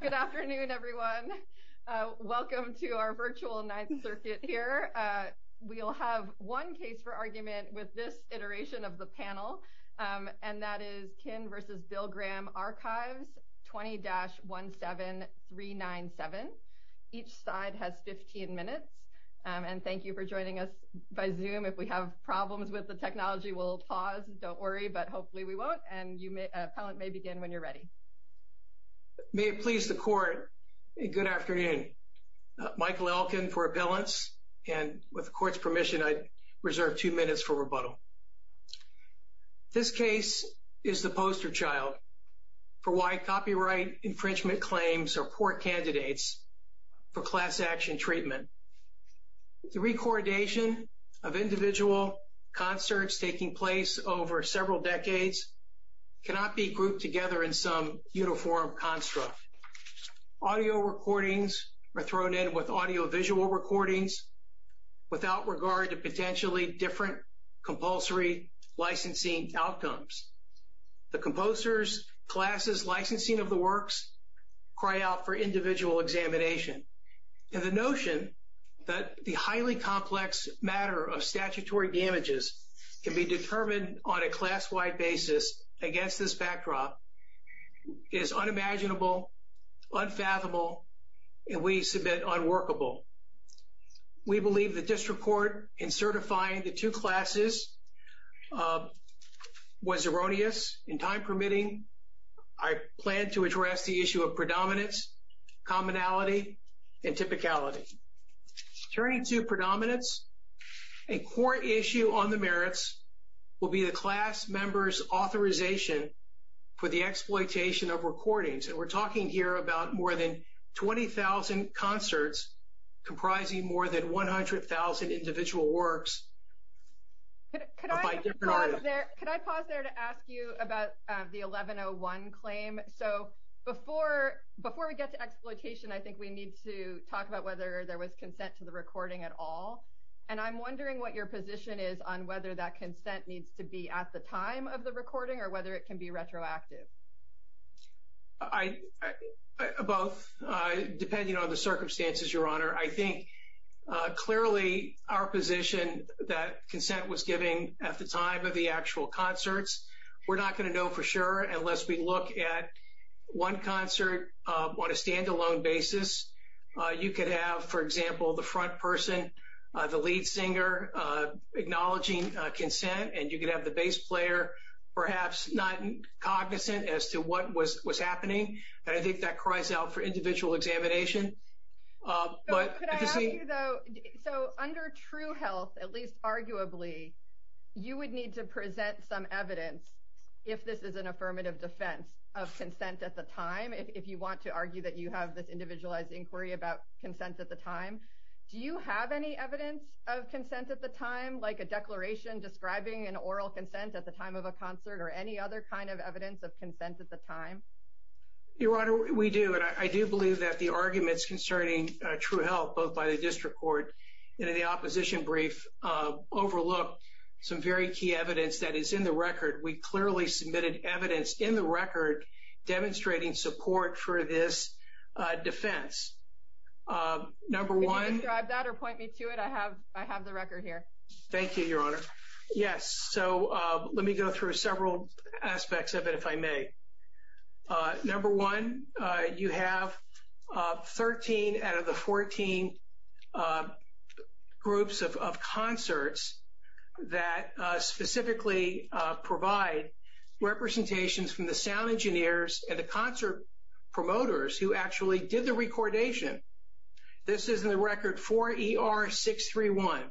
Good afternoon, everyone. Welcome to our virtual Ninth Circuit here. We'll have one case for argument with this iteration of the panel, and that is Kihn v. Bill Graham Archives 20-17397. Each side has 15 minutes, and thank you for joining us by Zoom. If we have problems with the technology, we'll pause. Don't worry, but hopefully we won't, and the appellant may begin when you're ready. May it please the Court, good afternoon. Michael Elkin for appellants, and with the Court's permission, I reserve two minutes for rebuttal. This case is the poster child for why copyright infringement claims or poor candidates for class action treatment. The recordation of individual concerts taking place over several decades cannot be grouped together in some uniform construct. Audio recordings are thrown in with audiovisual recordings without regard to potentially different compulsory licensing outcomes. The composers, classes, licensing of the works cry out for individual examination, and the notion that the highly complex matter of statutory damages can be determined on a class-wide basis against this backdrop is unimaginable, unfathomable, and we submit was erroneous in time permitting. I plan to address the issue of predominance, commonality, and typicality. Turning to predominance, a core issue on the merits will be the class member's authorization for the exploitation of recordings, and we're talking here about more than 20,000 concerts comprising more than 100,000 individual works. Could I pause there to ask you about the 1101 claim? So, before we get to exploitation, I think we need to talk about whether there was consent to the recording at all, and I'm wondering what your position is on whether that consent needs to be at the time of the recording or whether it can be retroactive. Both, depending on the circumstances, I think clearly our position that consent was given at the time of the actual concerts, we're not going to know for sure unless we look at one concert on a standalone basis. You could have, for example, the front person, the lead singer, acknowledging consent, and you could have the bass player perhaps not cognizant as to what was happening, and I think that cries out for individual examination. But could I ask you, though, so under true health, at least arguably, you would need to present some evidence, if this is an affirmative defense, of consent at the time, if you want to argue that you have this individualized inquiry about consent at the time. Do you have any evidence of consent at the time, like a declaration describing an oral consent at the time of a concert or any other kind of evidence of consent at the time? Your Honor, we do, and I do believe that the arguments concerning true health, both by the district court and in the opposition brief, overlook some very key evidence that is in the record. We clearly submitted evidence in the record demonstrating support for this defense. Can you describe that or point me to it? I have aspects of it, if I may. Number one, you have 13 out of the 14 groups of concerts that specifically provide representations from the sound engineers and the concert promoters who actually did the recordation. This is in the record 4ER631,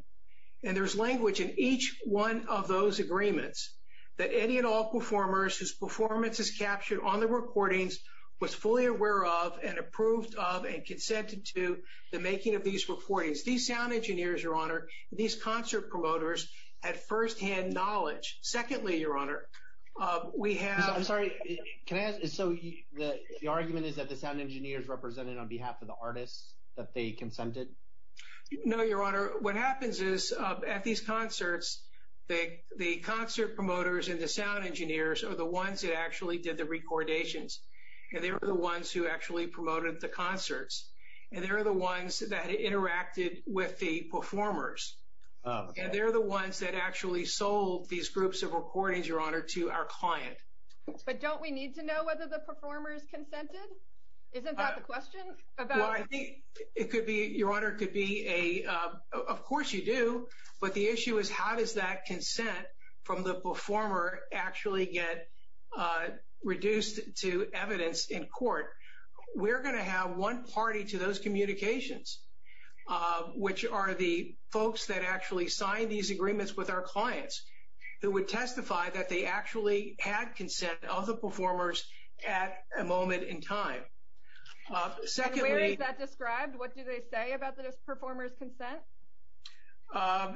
and there's language in each one of those agreements that any and all performers whose performance is captured on the recordings was fully aware of and approved of and consented to the making of these recordings. These sound engineers, Your Honor, these concert promoters had firsthand knowledge. Secondly, Your Honor, we have... I'm sorry, can I ask, so the argument is that the sound engineers represented on behalf of the artists that they consented? No, Your Honor. What happens is, at these concerts, the concert promoters and the sound engineers are the ones that actually did the recordations, and they were the ones who actually promoted the concerts, and they're the ones that interacted with the performers, and they're the ones that actually sold these groups of recordings, Your Honor, to our client. But don't we need to know whether the performers consented? Isn't that the question? Well, I think it could be, Your Honor, could be a... Of course you do, but the issue is how does that consent from the performer actually get reduced to evidence in court? We're going to have one party to those communications, which are the folks that actually signed these agreements with our clients who would testify that they actually had consent of the performers at a concert. And where is that described? What do they say about this performer's consent?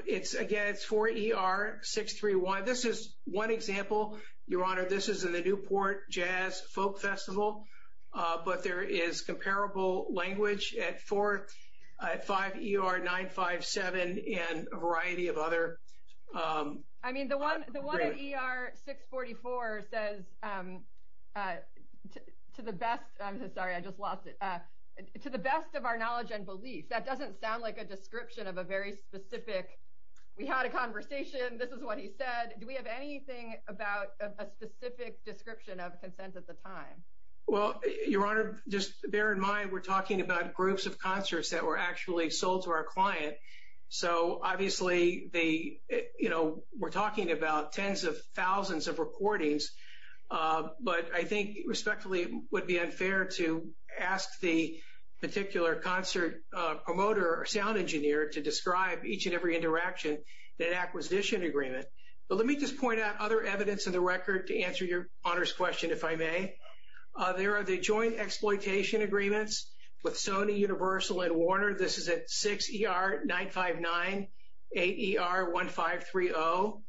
It's, again, it's 4ER-631. This is one example, Your Honor, this is in the Newport Jazz Folk Festival, but there is comparable language at 4, 5ER-957, and a variety of other... I mean, the one at ER-644 says, to the best, I'm sorry, I just lost it, to the best of our knowledge and belief. That doesn't sound like a description of a very specific, we had a conversation, this is what he said. Do we have anything about a specific description of consent at the time? Well, Your Honor, just bear in mind, we're talking about groups of concerts that were actually sold to our client. So, obviously, we're talking about tens of thousands of recordings, but I think, respectfully, it would be unfair to ask the particular concert promoter or sound engineer to describe each and every interaction in an acquisition agreement. But let me just point out other evidence in the record to answer Your Honor's question, if I may. There are the joint exploitation agreements with Sony, Universal, and Warner. This is at 6ER-959, 8ER-1530.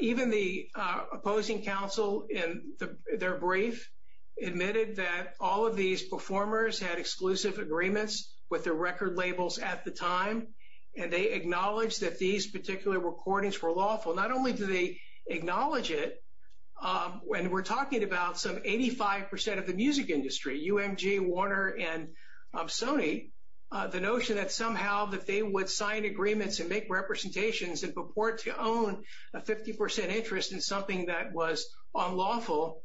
Even the opposing counsel in their brief admitted that all of these performers had exclusive agreements with the record labels at the time, and they acknowledged that these particular recordings were lawful. Not only do they acknowledge it, and we're talking about some 85% of the music industry, UMG, Warner, and Sony, the notion that somehow that they would sign agreements and make representations and purport to own a 50% interest in something that was unlawful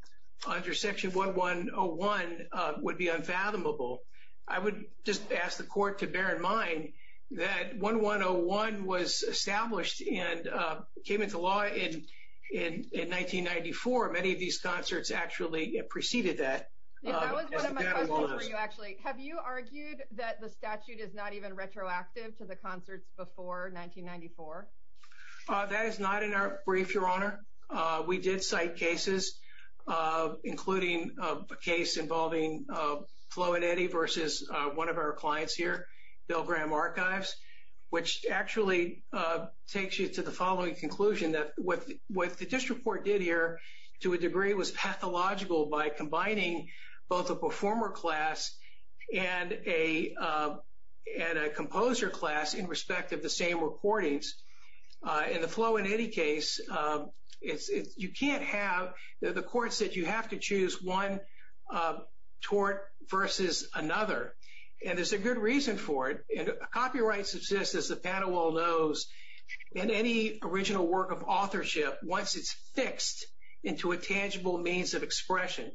under Section 1101 would be unfathomable. I would just ask the Court to bear in mind that 1101 was established and came into law in 1994. Many of these concerts actually preceded that. That was one of my questions for you, actually. Have you argued that the statute is not even retroactive to the concerts before 1994? That is not in our brief, Your Honor. We did cite cases, including a case involving Flo and Eddie versus one of our clients here, Bell-Graham Archives, which actually takes you to the following conclusion that what the district court did here, to a degree, was pathological by combining both a performer class and a composer class in respect of the same recordings. In the Flo and Eddie case, you can't have the courts that you have to choose one tort versus another, and there's a good reason for it. Copyright subsists, as the panel well knows, in any original work of authorship once it's fixed into a tangible means of expression.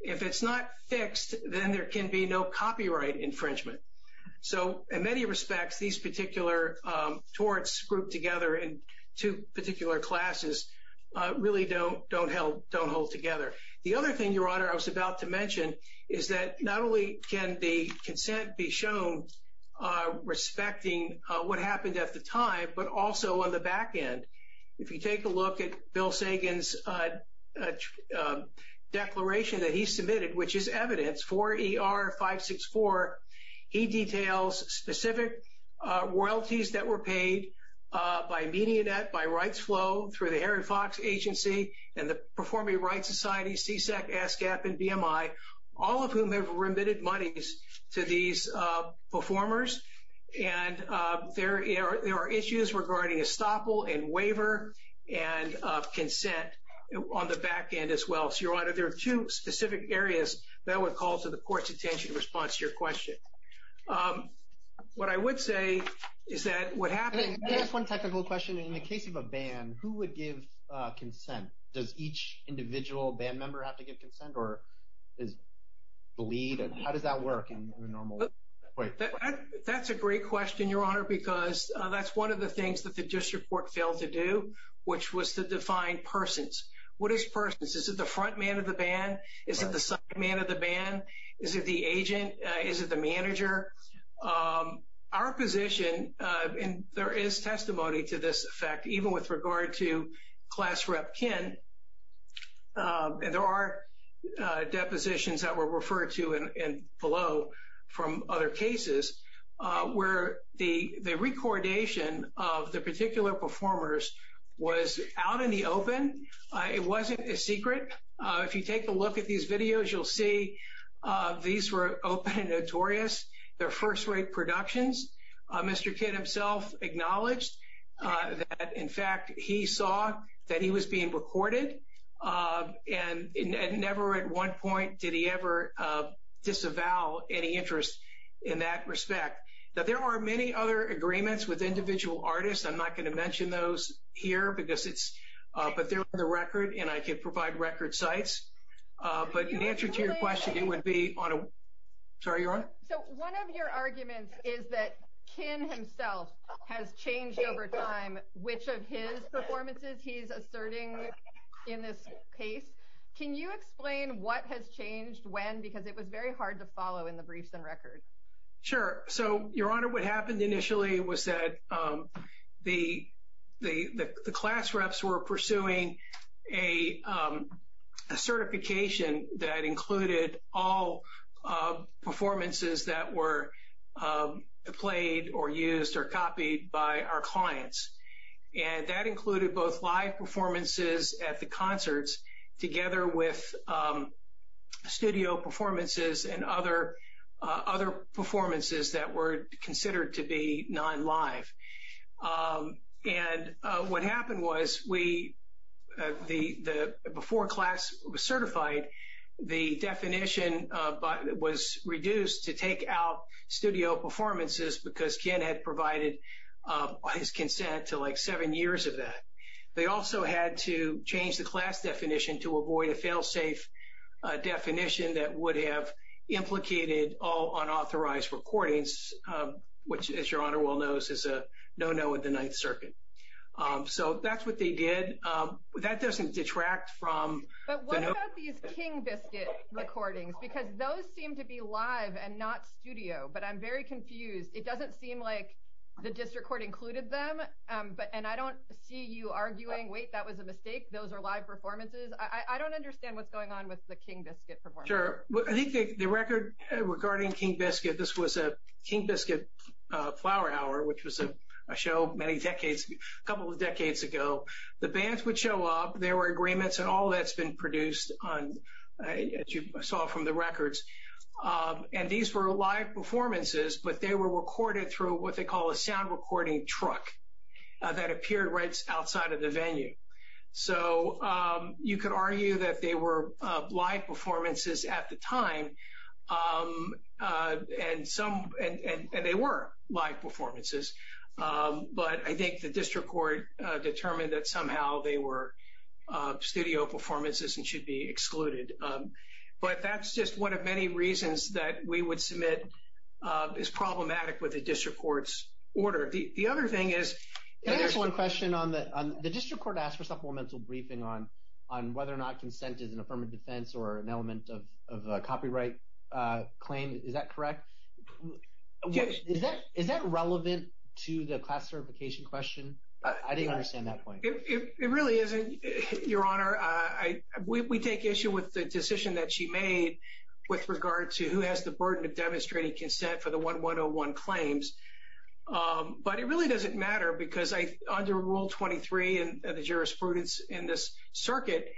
If it's not fixed, then there can be no copyright infringement. So, in many respects, these particular torts grouped together in two particular classes really don't hold together. The other thing, Your Honor, I was about to mention is that not only can the consent be shown respecting what happened at the time, but also on the back end. If you take a look at Bill Sagan's declaration that he submitted, which is evidence, 4ER564, he details specific royalties that were paid by MediaNet, by Rights Agency, and the Performing Rights Society, CSAC, ASCAP, and BMI, all of whom have remitted monies to these performers, and there are issues regarding estoppel and waiver and consent on the back end as well. So, Your Honor, there are two specific areas that would call to the court's attention in response to your question. What I would say is that what happened... Does each individual band member have to give consent, or is the lead? How does that work? That's a great question, Your Honor, because that's one of the things that the district court failed to do, which was to define persons. What is persons? Is it the front man of the band? Is it the side man of the band? Is it the agent? Is it the manager? Our position, and there is testimony to this effect, even with regard to Class Rep Ken, and there are depositions that were referred to below from other cases, where the recordation of the particular performers was out in the open. It wasn't a secret. If you take a look at these cases, Mr. Ken himself acknowledged that, in fact, he saw that he was being recorded, and never at one point did he ever disavow any interest in that respect. Now, there are many other agreements with individual artists. I'm not going to mention those here, but they're on the record, and I could provide record sites, but in answer to your question, it would be on a... So, one of your arguments is that Ken himself has changed over time which of his performances he's asserting in this case. Can you explain what has changed when? Because it was very hard to follow in the briefs and records. Sure. So, Your Honor, what happened initially was that the Class Reps were pursuing a certification that included all performances that were played or used or copied by our clients, and that included both live performances at the concerts, together with studio performances and other performances that were considered to be non-live. And what happened was, before class was certified, the definition was reduced to take out studio performances because Ken had provided his consent to like seven years of that. They also had to change the class definition to avoid a fail-safe definition that would have implicated all unauthorized recordings, which, as Your Honor well knows, is a no-no in the Ninth Circuit. So, that's what they did. That doesn't detract from... But what about these King Biscuit recordings? Because those seem to be live and not studio, but I'm very confused. It doesn't seem like the district court included them, and I don't see you arguing, wait, that was a mistake. Those are live performances. I don't understand what's going on with the King Biscuit performance. I think the record regarding King Biscuit, this was a King Biscuit Flower Hour, which was a show many decades, a couple of decades ago. The bands would show up, there were agreements, and all that's been produced on, as you saw from the records. And these were live performances, but they were recorded through what they call a sound recording truck that appeared right outside of the at the time. And they were live performances, but I think the district court determined that somehow they were studio performances and should be excluded. But that's just one of many reasons that we would submit is problematic with the district court's order. The other thing is... Can I ask one question? The district court asked for supplemental briefing on whether or not consent is an affirmative defense or an element of a copyright claim. Is that correct? Is that relevant to the class certification question? I didn't understand that point. It really isn't, Your Honor. We take issue with the decision that she made with regard to who has the burden of demonstrating consent for the 1101 claims. But it really doesn't matter because under Rule 23 and the jurisprudence in this circuit,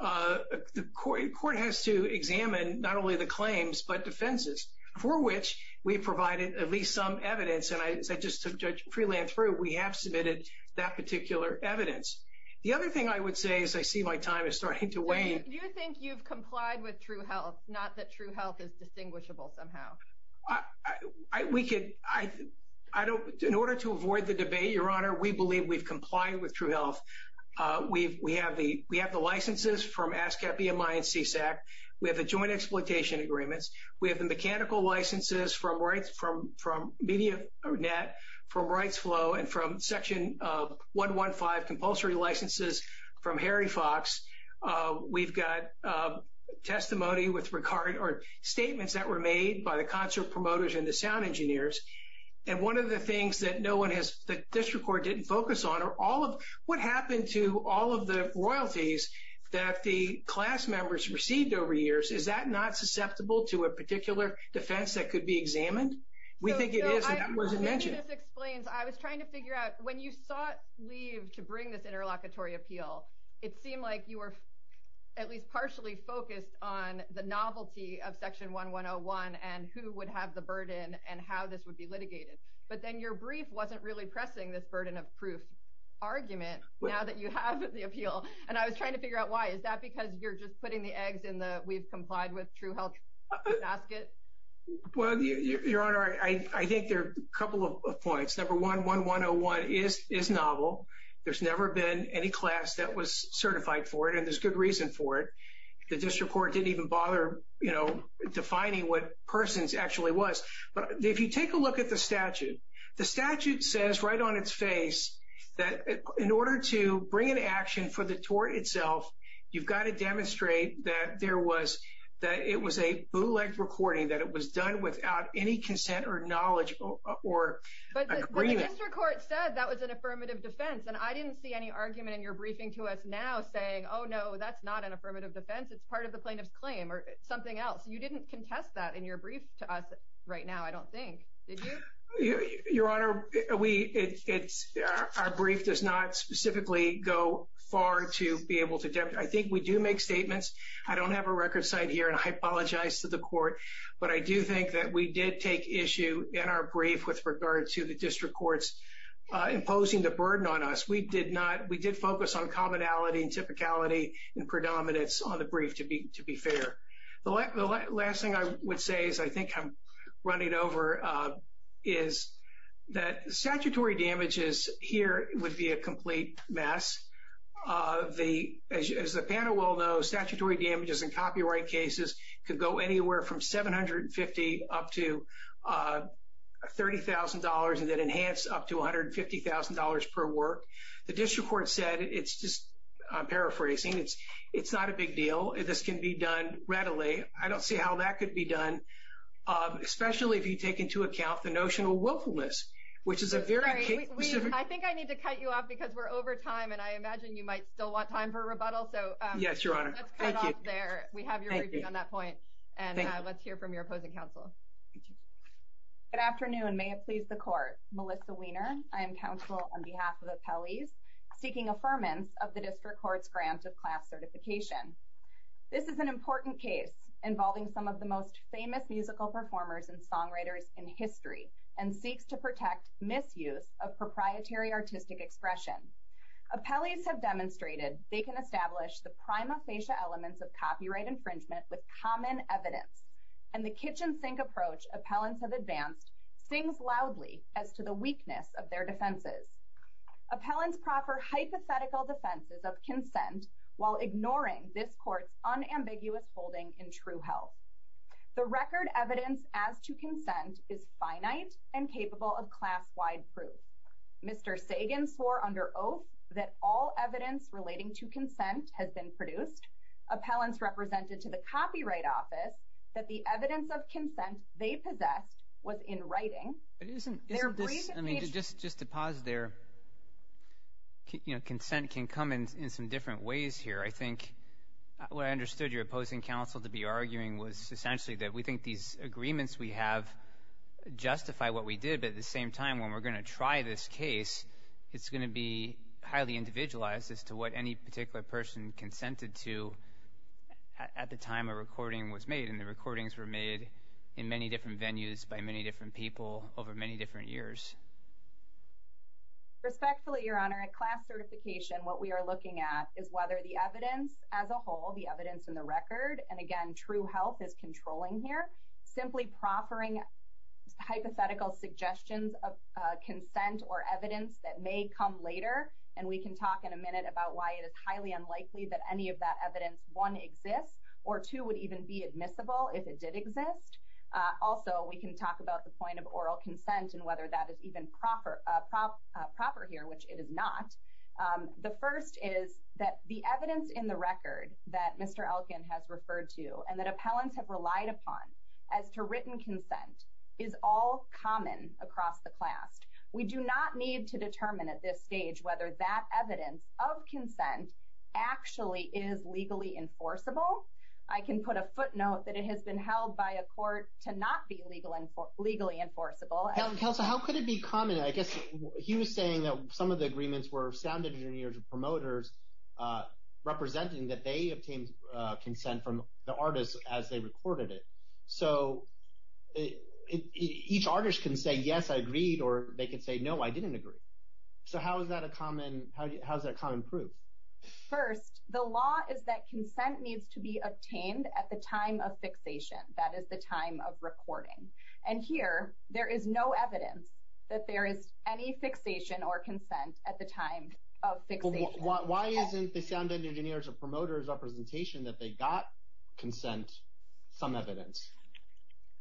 the court has to examine not only the claims but defenses, for which we provided at least some evidence. And I said just to Judge Freeland-Thru, we have submitted that particular evidence. The other thing I would say as I see my time is starting to wane... Do you think you've complied with true health, not that true health is distinguishable somehow? In order to avoid the debate, Your Honor, we believe we've complied with true health. We have the licenses from ASCAP, EMI, and CSAC. We have the joint exploitation agreements. We have the mechanical licenses from MediaNet, from RightsFlow, and from Section 115 compulsory licenses from Harry Fox. We've got testimony or statements that were made by the concert promoters and the sound engineers. And one of the things that the district court didn't focus on are all of what happened to all of the royalties that the class members received over years. Is that not susceptible to a particular defense that could be examined? We think it is wasn't mentioned. I was trying to figure out when you sought leave to bring this interlocutory appeal, it seemed like you were at least partially focused on the novelty of Section 1101 and who would have the burden and how this would be litigated. But then your brief wasn't really pressing this burden of proof argument now that you have the appeal. And I was trying to figure out why. Is that because you're just putting the eggs in the we've complied with true health basket? Well, your honor, I think there are a couple of points. Number one, 1101 is novel. There's never been any class that was certified for it. And there's good reason for it. The district court didn't even bother, you know, defining what persons actually was. But if you take a look at the statute, the statute says right on its face that in order to bring an action for tort itself, you've got to demonstrate that there was that it was a bootleg recording, that it was done without any consent or knowledge or agreement. But the district court said that was an affirmative defense. And I didn't see any argument in your briefing to us now saying, oh, no, that's not an affirmative defense. It's part of the plaintiff's claim or something else. You didn't contest that in your brief to us right now, I don't think. Yeah, your honor, we it's our brief does not specifically go far to be able to. I think we do make statements. I don't have a record site here and I apologize to the court. But I do think that we did take issue in our brief with regard to the district courts imposing the burden on us. We did not we did focus on commonality and typicality and predominance on the brief to be fair. The last thing I would say is I think I'm running over is that statutory damages here would be a complete mess of the as a panel will know statutory damages and copyright cases could go anywhere from 750 up to $30,000 and then enhance up to $150,000 per work. The district court said it's just paraphrasing. It's it's not a big deal. This can be done readily. I don't see how that could be done. Especially if you take into account the notion of willfulness, which is a very I think I need to cut you off because we're over time. And I imagine you might still want time for rebuttal. So yes, your honor. There we have you on that point. And let's hear from your opposing counsel. Good afternoon, may it please the court, Melissa Weiner. I am counsel on behalf of the seeking affirmance of the district court's grant of class certification. This is an important case involving some of the most famous musical performers and songwriters in history and seeks to protect misuse of proprietary artistic expression. appellees have demonstrated they can establish the prima facie elements of copyright infringement with common evidence. And the kitchen sink approach appellants have advanced things loudly as to the weakness of their defenses. appellants proffer hypothetical defenses of consent while ignoring this court's unambiguous holding in true health. The record evidence as to consent is finite and capable of class wide proof. Mr. Sagan swore under oath that all evidence relating to consent has been produced. appellants represented to the copyright office that the evidence of consent they possessed was in writing. I mean, just just to pause there. You know, consent can come in some different ways here. I think what I understood your opposing counsel to be arguing was essentially that we think these agreements we have justify what we did. But at the same time, when we're going to try this case, it's going to be highly individualized as to what any particular person consented to at the time a recording was made. And the recordings were made in many different venues by many different people over many different years. Respectfully, Your Honor, at class certification, what we are looking at is whether the evidence as a whole the evidence in the record and again, true health is controlling here, simply proffering hypothetical suggestions of consent or evidence that may come later. And we can talk in a minute about why it is highly unlikely that any of that evidence one exists, or two would even be admissible if it did exist. Also, we can talk about the point of oral consent and whether that is even proper, proper, proper here, which it is not. The first is that the evidence in the record that Mr. Elkin has referred to and that appellants have relied upon as to written consent is all common across the class. We do not need to determine at this stage whether that evidence of consent actually is legally enforceable. I can put a footnote that it has been held by a court to not be legally enforceable. Counsel, how could it be common? I guess he was saying that some of the agreements were sound engineers and promoters representing that they obtained consent from the artists as they recorded it. So each artist can say, yes, I agreed, or they could say, no, I didn't agree. So how is that a common proof? First, the law is that consent needs to be obtained at the time of fixation, that is the time of recording. And here, there is no evidence that there is any fixation or consent at the time of fixation. Why isn't the sound engineers or promoters representation that they got consent some evidence?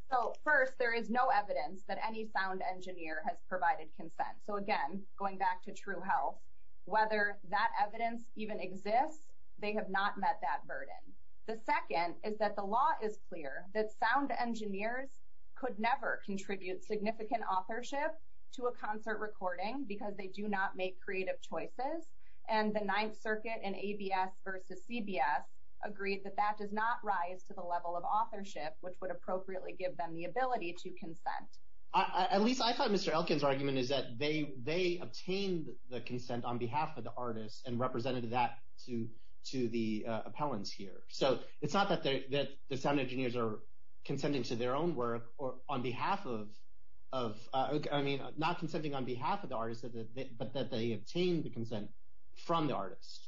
So first, there is no evidence that any sound engineer has provided consent. So again, going back to true health, whether that evidence even exists, they have not met that burden. The second is that the law is clear that sound engineers could never contribute significant authorship to a concert recording because they do not make creative choices. And the Ninth Circuit and ABS versus CBS agreed that that does not rise to the level of authorship, which would appropriately give them the ability to consent. At least I thought Mr. Elkin's argument is that they obtained the consent on behalf of the artists and represented that to the appellants here. So it's not that the sound engineers are consenting to their own work or on behalf of, I mean, not consenting on behalf of the artists, but that they obtained the consent from the artists.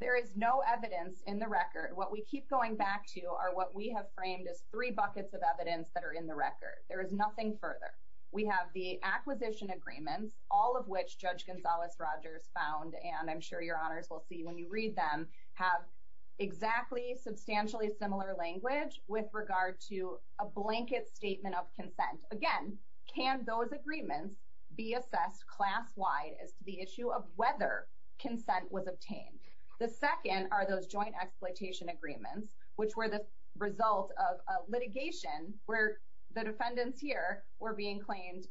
There is no evidence in the record. What we keep going back to are what we have framed as three buckets of evidence that are in the record. There is nothing further. We have the acquisition agreements, all of which Judge Gonzales-Rogers found, and I'm sure your honors will see when you read them, have exactly substantially similar language with regard to a blanket statement of consent. Again, can those agreements be assessed class-wide as to the issue of whether consent was obtained? The second are those joint exploitation agreements, which were the result of litigation where the defendants here were being claimed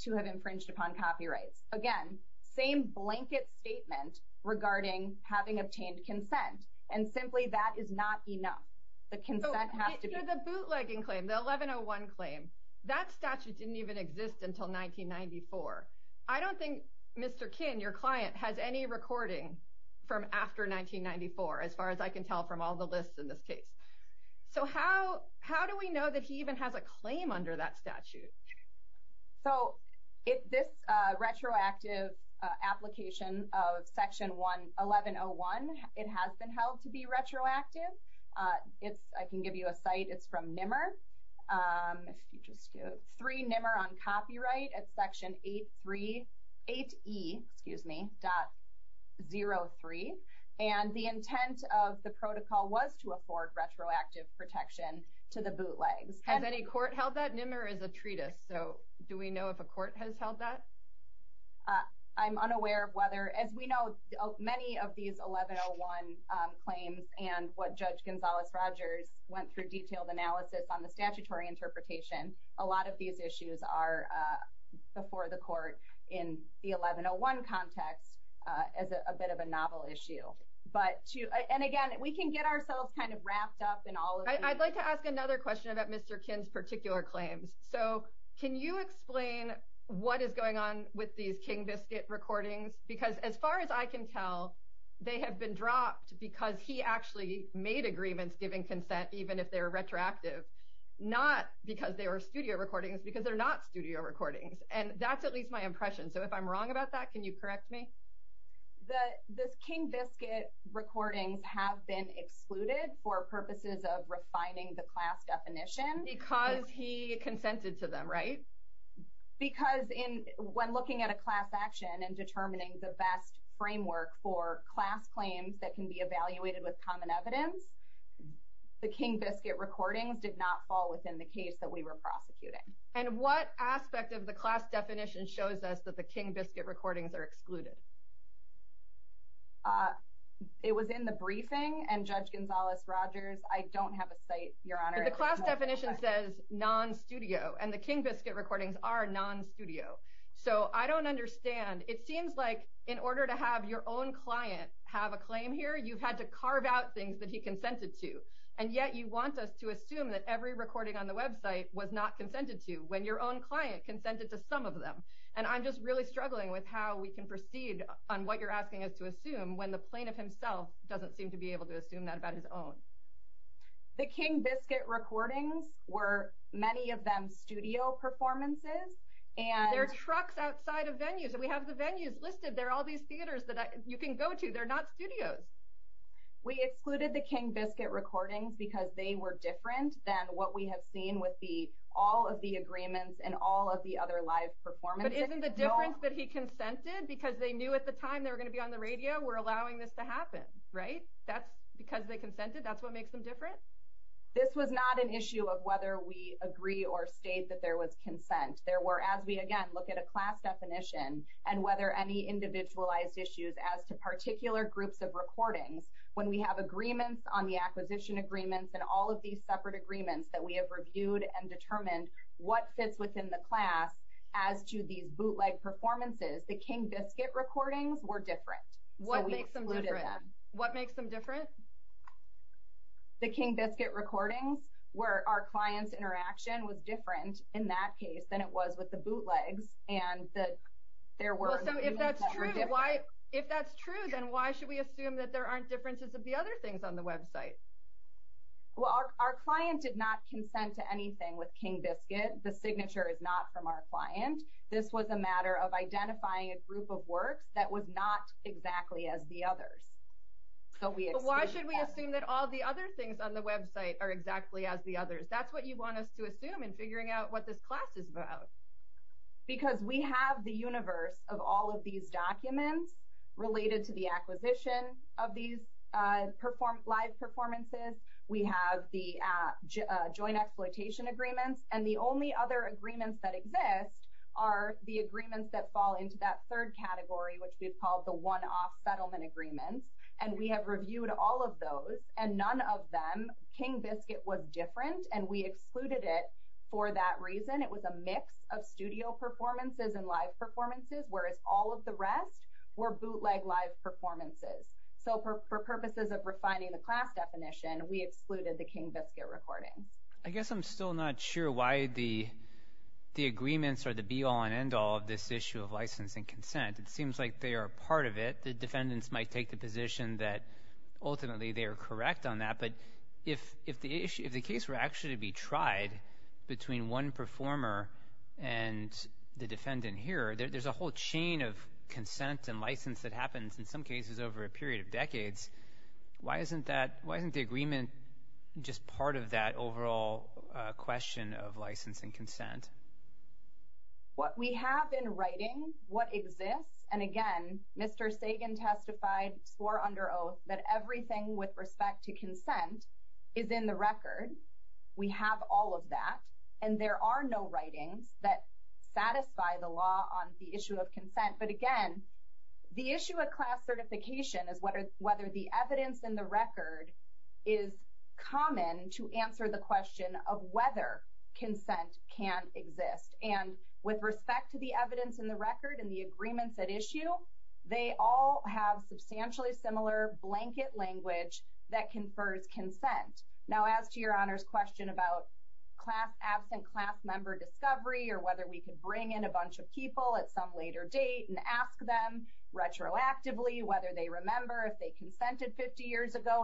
to have infringed upon copyrights. Again, same blanket statement regarding having obtained consent, and simply that is not enough. The consent has to be... Oh, the bootlegging claim, the 1101 claim, that statute didn't even exist until 1994. I don't think, Mr. Kinn, your client has any recording from after 1994, as far as I can tell from all the lists in this case. So, how do we know that he even has a claim under that statute? So, this retroactive application of Section 1101, it has been held to be retroactive. I can give you a site. It's from NMR. If you just go to 3 NMR on Copyright at Section 8E.03. And the intent of the protocol was to afford retroactive protection to the bootlegs. Has any court held that? NMR is a treatise. So, do we know if a court has held that? I'm unaware of whether... As we know, many of these 1101 claims and what Judge Gonzales-Rogers went through detailed analysis on the statutory interpretation, a lot of these issues are before the court in the 1101 context as a bit of a novel issue. And again, we can get ourselves kind of wrapped up in all of these. I'd like to ask another question about Mr. Kinn's particular claims. So, can you explain what is going on with these King Biscuit recordings? Because as far as I can tell, they have been dropped because he actually made agreements giving consent, even if they were retroactive. Not because they were studio recordings, because they're not studio recordings. And that's at least my impression. So, if I'm wrong about that, can you correct me? The King Biscuit recordings have been excluded for purposes of refining the class definition. Because he consented to them, right? Because when looking at a class action and determining the best framework for class claims that can be evaluated with common evidence, the King Biscuit recordings did not fall within the case that we were prosecuting. And what aspect of the class definition shows us that the King Biscuit recordings are excluded? It was in the briefing, and Judge Gonzalez-Rogers, I don't have a cite, Your Honor. The class definition says non-studio, and the King Biscuit recordings are non-studio. So, I don't understand. It seems like in order to have your own client have a claim here, you've had to carve out things that he consented to. And yet, you want us to assume that every recording on the website was not consented to when your own client consented to some of them. And I'm just really struggling with how we can proceed on what you're asking us to assume when the plaintiff himself doesn't seem to be able to assume that about his own. The King Biscuit recordings were, many of them, studio performances. And there are trucks outside of venues. We have the venues listed. There are all these theaters that you can go to. They're not studios. We excluded the King Biscuit recordings because they were different than what we have seen with all of the agreements and all of the other live performances. But isn't the difference that he consented because they knew at the time they were going to be on the radio, we're allowing this to happen, right? That's because they consented. That's what makes them different? This was not an issue of whether we agree or state that there was consent. There were, as we, again, look at a class definition and whether any individualized issues as to particular groups of recordings, when we have agreements on the acquisition agreements and all of these separate agreements that we have reviewed and determined what fits within the class as to these bootleg performances, the King Biscuit recordings were different. What makes them different? What makes them different? The King Biscuit recordings where our client's interaction was different in that case than it was with the bootlegs and that there were... So if that's true, why, if that's true, then why should we assume that there aren't differences of the other things on the website? Well, our client did not consent to anything with King Biscuit. The signature is not from our client. This was a matter of identifying a group of works that was not exactly as the others. So why should we assume that all the other things on the website are exactly as the others? That's what you want us to assume in figuring out what this class is about. Because we have the universe of all of these documents related to the acquisition of these live performances. We have the joint exploitation agreements. And the only other agreements that exist are the agreements that fall into that third category, which we've called the one-off settlement agreements. And we have reviewed all of those and none of them, King Biscuit was different and we excluded it for that reason. It was a mix of studio performances and live performances, whereas all of the rest were bootleg live performances. So for purposes of refining the class definition, we excluded the King Biscuit recordings. I guess I'm still not sure why the agreements or the be-all and end-all of this issue of licensing consent. It seems like they are part of it. The defendants might take the position that ultimately they are correct on that. But if the case were actually to be tried between one performer and the defendant here, there's a whole chain of consent and license that happens in some cases over a period of decades. Why isn't the agreement just part of that overall question of licensing consent? What we have in writing, what exists, and again, Mr. Sagan testified, swore under oath, that everything with respect to consent is in the record. We have all of that. And there are no writings that satisfy the law on the issue of consent. But again, the issue of class certification is whether the evidence in the record is common to answer the question of whether consent can exist. And with respect to the evidence in the record and the agreements at issue, they all have substantially similar blanket language that confers consent. Now, as to your Honor's question about absent class member discovery or whether we could bring in a bunch of people at some later date and ask them retroactively whether they remember if they consented 50 years ago,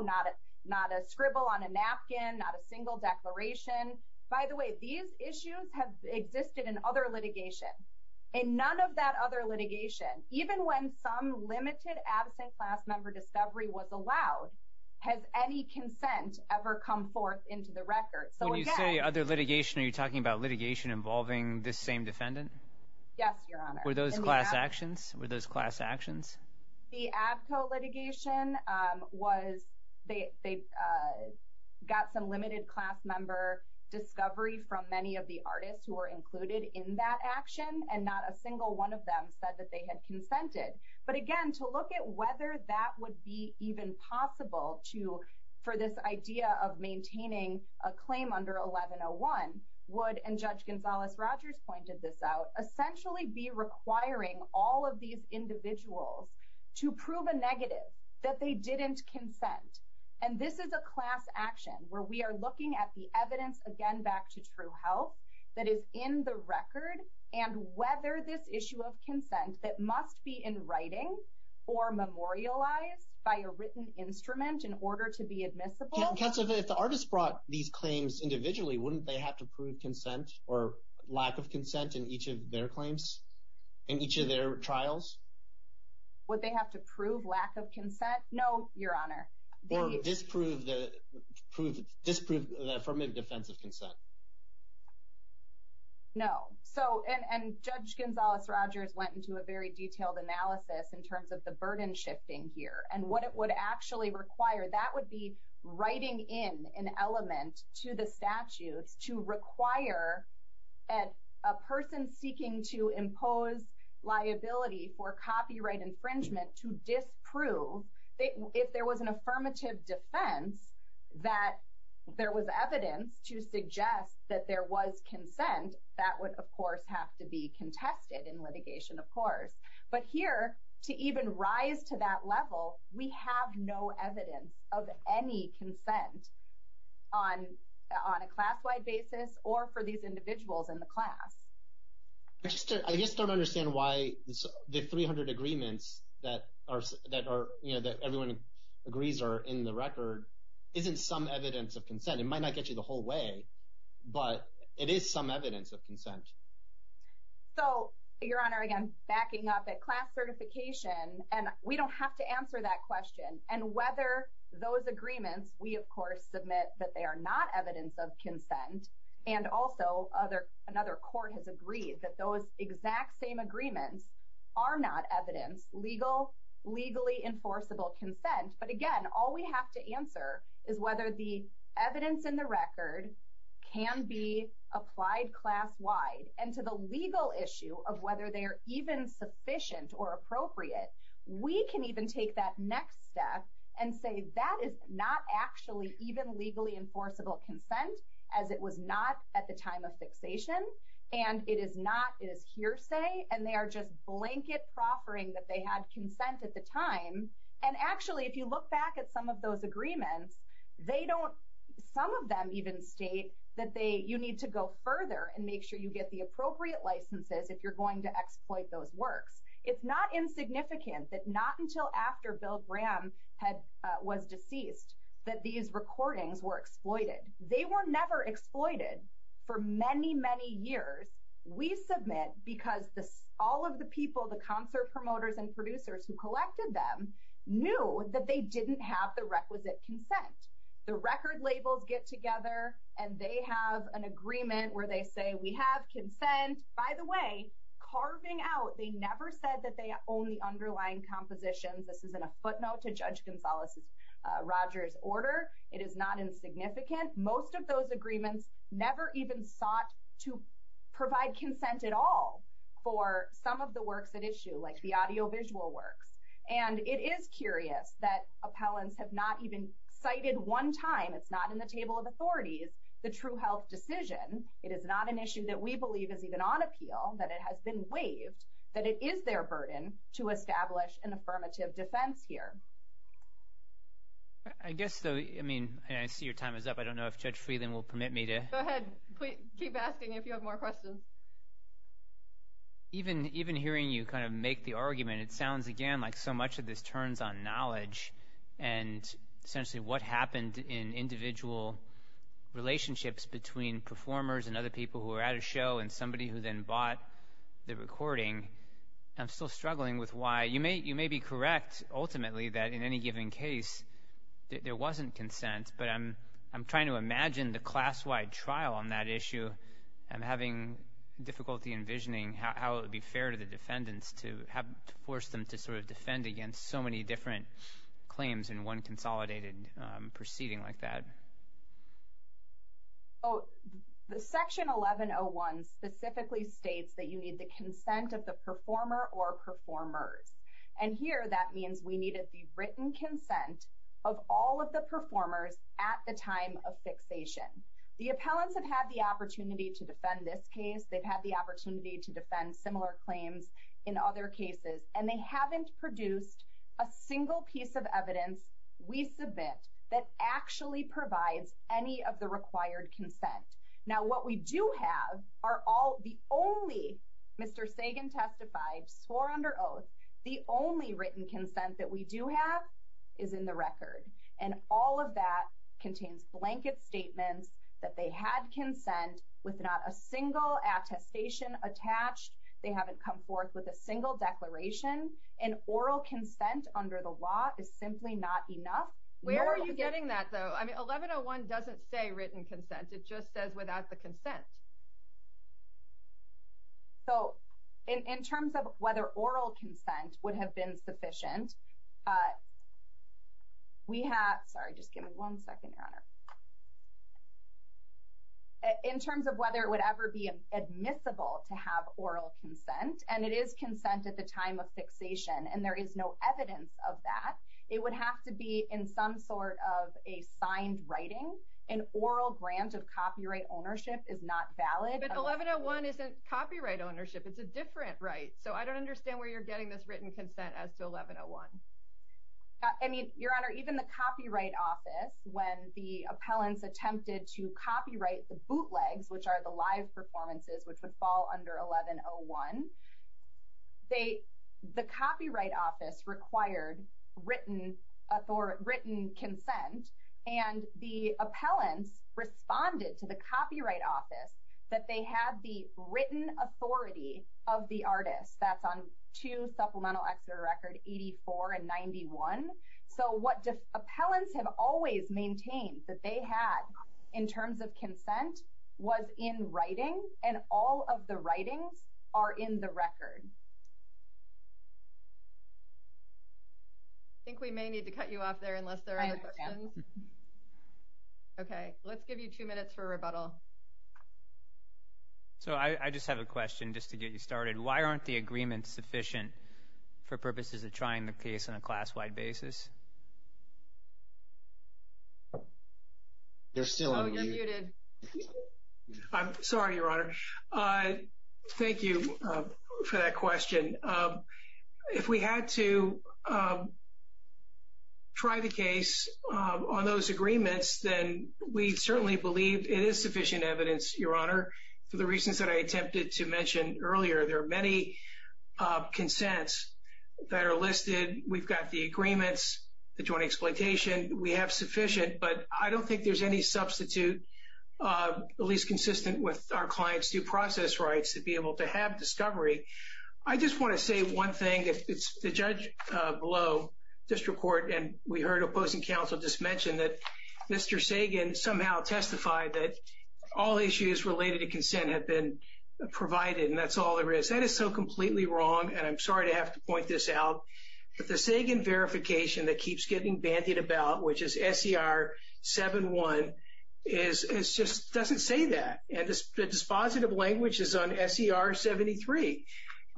not a scribble on a napkin, not a single declaration. By the way, these issues have existed in other litigation. In none of that other litigation, even when some record. So when you say other litigation, are you talking about litigation involving this same defendant? Yes, your Honor. Were those class actions? Were those class actions? The Abko litigation was, they got some limited class member discovery from many of the artists who were included in that action, and not a single one of them said that they had consented. But again, to look at whether that would be even possible to, for this idea of maintaining a claim under 1101, Wood and Judge Gonzales-Rogers pointed this out, essentially be requiring all of these individuals to prove a negative, that they didn't consent. And this is a class action where we are looking at the evidence, again, back to True Health, that is in the record, and whether this issue of consent that must be in writing or memorialized by a written instrument in order to be admissible. Counsel, if the artist brought these claims individually, wouldn't they have to prove consent or lack of consent in each of their claims, in each of their trials? Would they have to prove lack of consent? No, your Honor. Or disprove the affirmative defense of consent. No. So, and Judge Gonzales-Rogers went into a very detailed analysis in terms of the burden shifting here, and what it would actually require. That would be writing in an element to the statutes to require a person seeking to impose liability for copyright infringement to disprove, if there was an affirmative defense, that there was evidence to suggest that there was consent, that would, of course, have to be contested in litigation, of course. But here, to even rise to that level, we have no evidence of any consent on a class-wide basis or for these individuals in the class. I just don't understand why the 300 agreements that are, you know, that everyone agrees are in the record isn't some evidence of consent. It might not get you the whole way, but it is some evidence of consent. So, your Honor, again, backing up at class certification, and we don't have to answer that question. And whether those agreements, we, of course, submit that they are not evidence of consent. And also, another court has agreed that those exact same agreements are not evidence, legal, legally enforceable consent. But again, all we have to answer is whether the evidence in the record can be applied class-wide. And to the legal issue of whether they are even sufficient or appropriate, we can even take that next step and say that is not actually even legally enforceable consent, as it was not at the time of fixation. And it is not, it is hearsay, and they are just blanket proffering that they had consent at the time. And actually, if you look back at some of those agreements, they don't, some of them even state that they, you need to go further and make sure you get the appropriate licenses if you're going to exploit those works. It's not insignificant that not until after Bill Graham had, was deceased, that these recordings were exploited. They were never exploited for many, many years. We submit because all of the people, the concert promoters and producers who collected them, knew that they didn't have the requisite consent. The record labels get together and they have an agreement where they say, we have consent. By the way, carving out, they never said that they it is not insignificant. Most of those agreements never even sought to provide consent at all for some of the works at issue, like the audiovisual works. And it is curious that appellants have not even cited one time, it's not in the table of authorities, the true health decision. It is not an issue that we believe is even on appeal, that it has been waived, that it is their burden to establish an affirmative defense here. I guess though, I mean, I see your time is up. I don't know if Judge Freeland will permit me to Go ahead, keep asking if you have more questions. Even hearing you kind of make the argument, it sounds again like so much of this turns on knowledge and essentially what happened in individual relationships between performers and other people who were at a show and somebody who then bought the recording. I'm still struggling with why. You may be correct, ultimately, that in any given case, there wasn't consent, but I'm trying to imagine the class-wide trial on that issue. I'm having difficulty envisioning how it would be fair to the defendants to have forced them to sort of defend against so many different claims in one consolidated proceeding like that. Oh, the section 1101 specifically states that you need the consent of the performer or performers. And here that means we needed the written consent of all of the performers at the time of fixation. The appellants have had the opportunity to defend this case. They've had the opportunity to defend similar claims in other cases, and they haven't produced a single piece of evidence we submit that actually provides any of the required consent. Now, what we do have are all the only, Mr. Sagan testified, swore under oath, the only written consent that we do have is in the record. And all of that contains blanket statements that they had consent with not a single attestation attached. They haven't come forth with a single declaration. And oral consent under the law is simply not enough. Where are you getting that, though? I mean, 1101 doesn't say written consent. It just says without the consent. So, in terms of whether oral consent would have been sufficient, we have, sorry, just give me one second, Your Honor. In terms of whether it would ever be admissible to have oral consent, and it is consent at the time of fixation, and there is no evidence of that, it would have to be in some sort of a signed writing. An oral grant of copyright ownership is not valid. But 1101 isn't copyright ownership. It's a different right. So, I don't understand where you're getting this written consent as to 1101. I mean, Your Honor, even the Copyright Office, when the appellants attempted to copyright the bootlegs, which are the live performances, which would fall under 1101, the Copyright Office required written consent. And the appellants responded to the Copyright Office that they had written authority of the artist. That's on two supplemental exeter records, 84 and 91. So, what appellants have always maintained that they had in terms of consent was in writing, and all of the writings are in the record. I think we may need to cut you off there unless there are other questions. Okay. Let's give you two minutes for rebuttal. I just have a question just to get you started. Why aren't the agreements sufficient for purposes of trying the case on a class-wide basis? You're still on mute. I'm sorry, Your Honor. Thank you for that question. If we had to try the case on those agreements, then we certainly believe it is sufficient evidence, for the reasons that I attempted to mention earlier. There are many consents that are listed. We've got the agreements, the joint exploitation. We have sufficient, but I don't think there's any substitute, at least consistent with our client's due process rights, to be able to have discovery. I just want to say one thing. The judge below District Court, and we heard opposing counsel just mention that Mr. Sagan somehow testified that all issues related to consent had been provided, and that's all there is. That is so completely wrong, and I'm sorry to have to point this out, but the Sagan verification that keeps getting bandied about, which is SER 71, just doesn't say that. The dispositive language is on SER 73.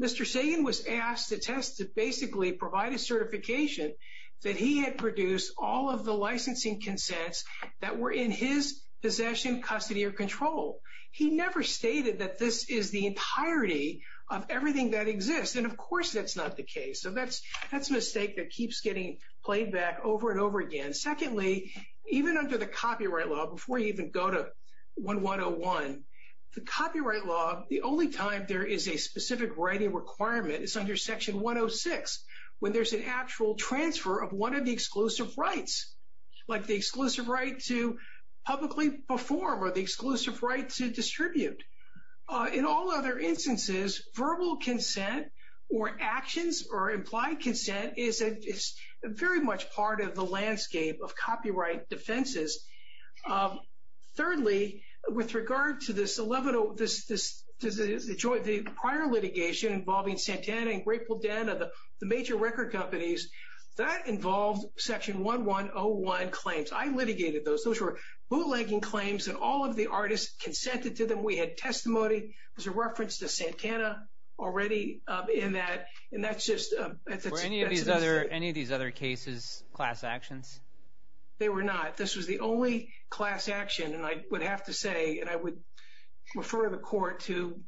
Mr. Sagan was asked to test to basically provide a certification that he had produced all of the control. He never stated that this is the entirety of everything that exists, and of course that's not the case. So that's a mistake that keeps getting played back over and over again. Secondly, even under the copyright law, before you even go to 1101, the copyright law, the only time there is a specific writing requirement is under Section 106, when there's an actual transfer of one of the exclusive rights, like the exclusive right to publicly perform or the exclusive right to distribute. In all other instances, verbal consent or actions or implied consent is very much part of the landscape of copyright defenses. Thirdly, with regard to this prior litigation involving Santana and Grapeville-Denna, the major record companies, that involved Section 1101 claims. I litigated those. Those were bootlegging claims, and all of the artists consented to them. We had testimony. There's a reference to Santana already in that, and that's just... Were any of these other cases class actions? They were not. This was the only class action, and I would have to say, and I refer the court to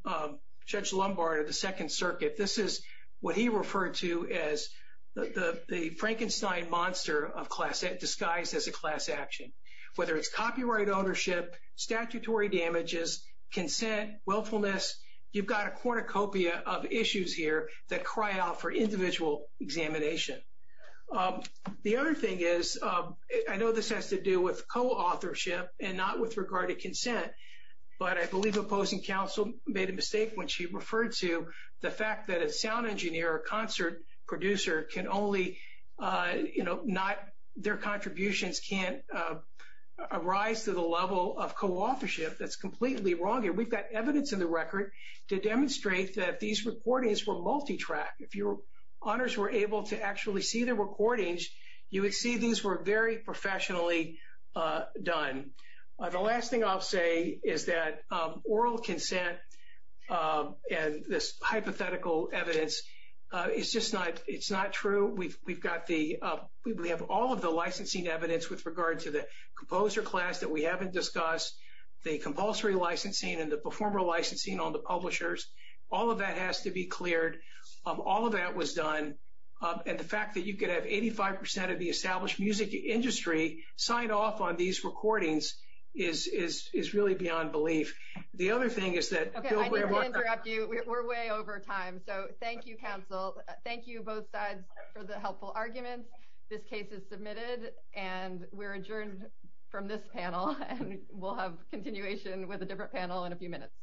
Judge Lombard of the Second Circuit. This is what he referred to as the Frankenstein monster of class, disguised as a class action. Whether it's copyright ownership, statutory damages, consent, willfulness, you've got a cornucopia of issues here that cry out for individual examination. The other thing is, I know this has to do with co-authorship and not with regard to consent, but I believe opposing counsel made a mistake when she referred to the fact that a sound engineer or concert producer can only... Their contributions can't arise to the level of co-authorship. That's completely wrong, and we've got evidence in the record to demonstrate that these recordings were multi-track. If your honors were able to actually see the recordings, you would see these were very professionally done. The last thing I'll say is that oral consent and this hypothetical evidence, it's just not true. We have all of the licensing evidence with regard to the composer class that we haven't discussed, the compulsory licensing and the performer licensing on the publishers. All of that has to be cleared. All of that was done, and the fact that you could have 85% of the established music industry sign off on these recordings is really beyond belief. The other thing is that- Okay, I need to interrupt you. We're way over time, so thank you, counsel. Thank you both sides for the helpful arguments. This case is submitted, and we're adjourned from this panel, and we'll have continuation with a different panel in a few minutes.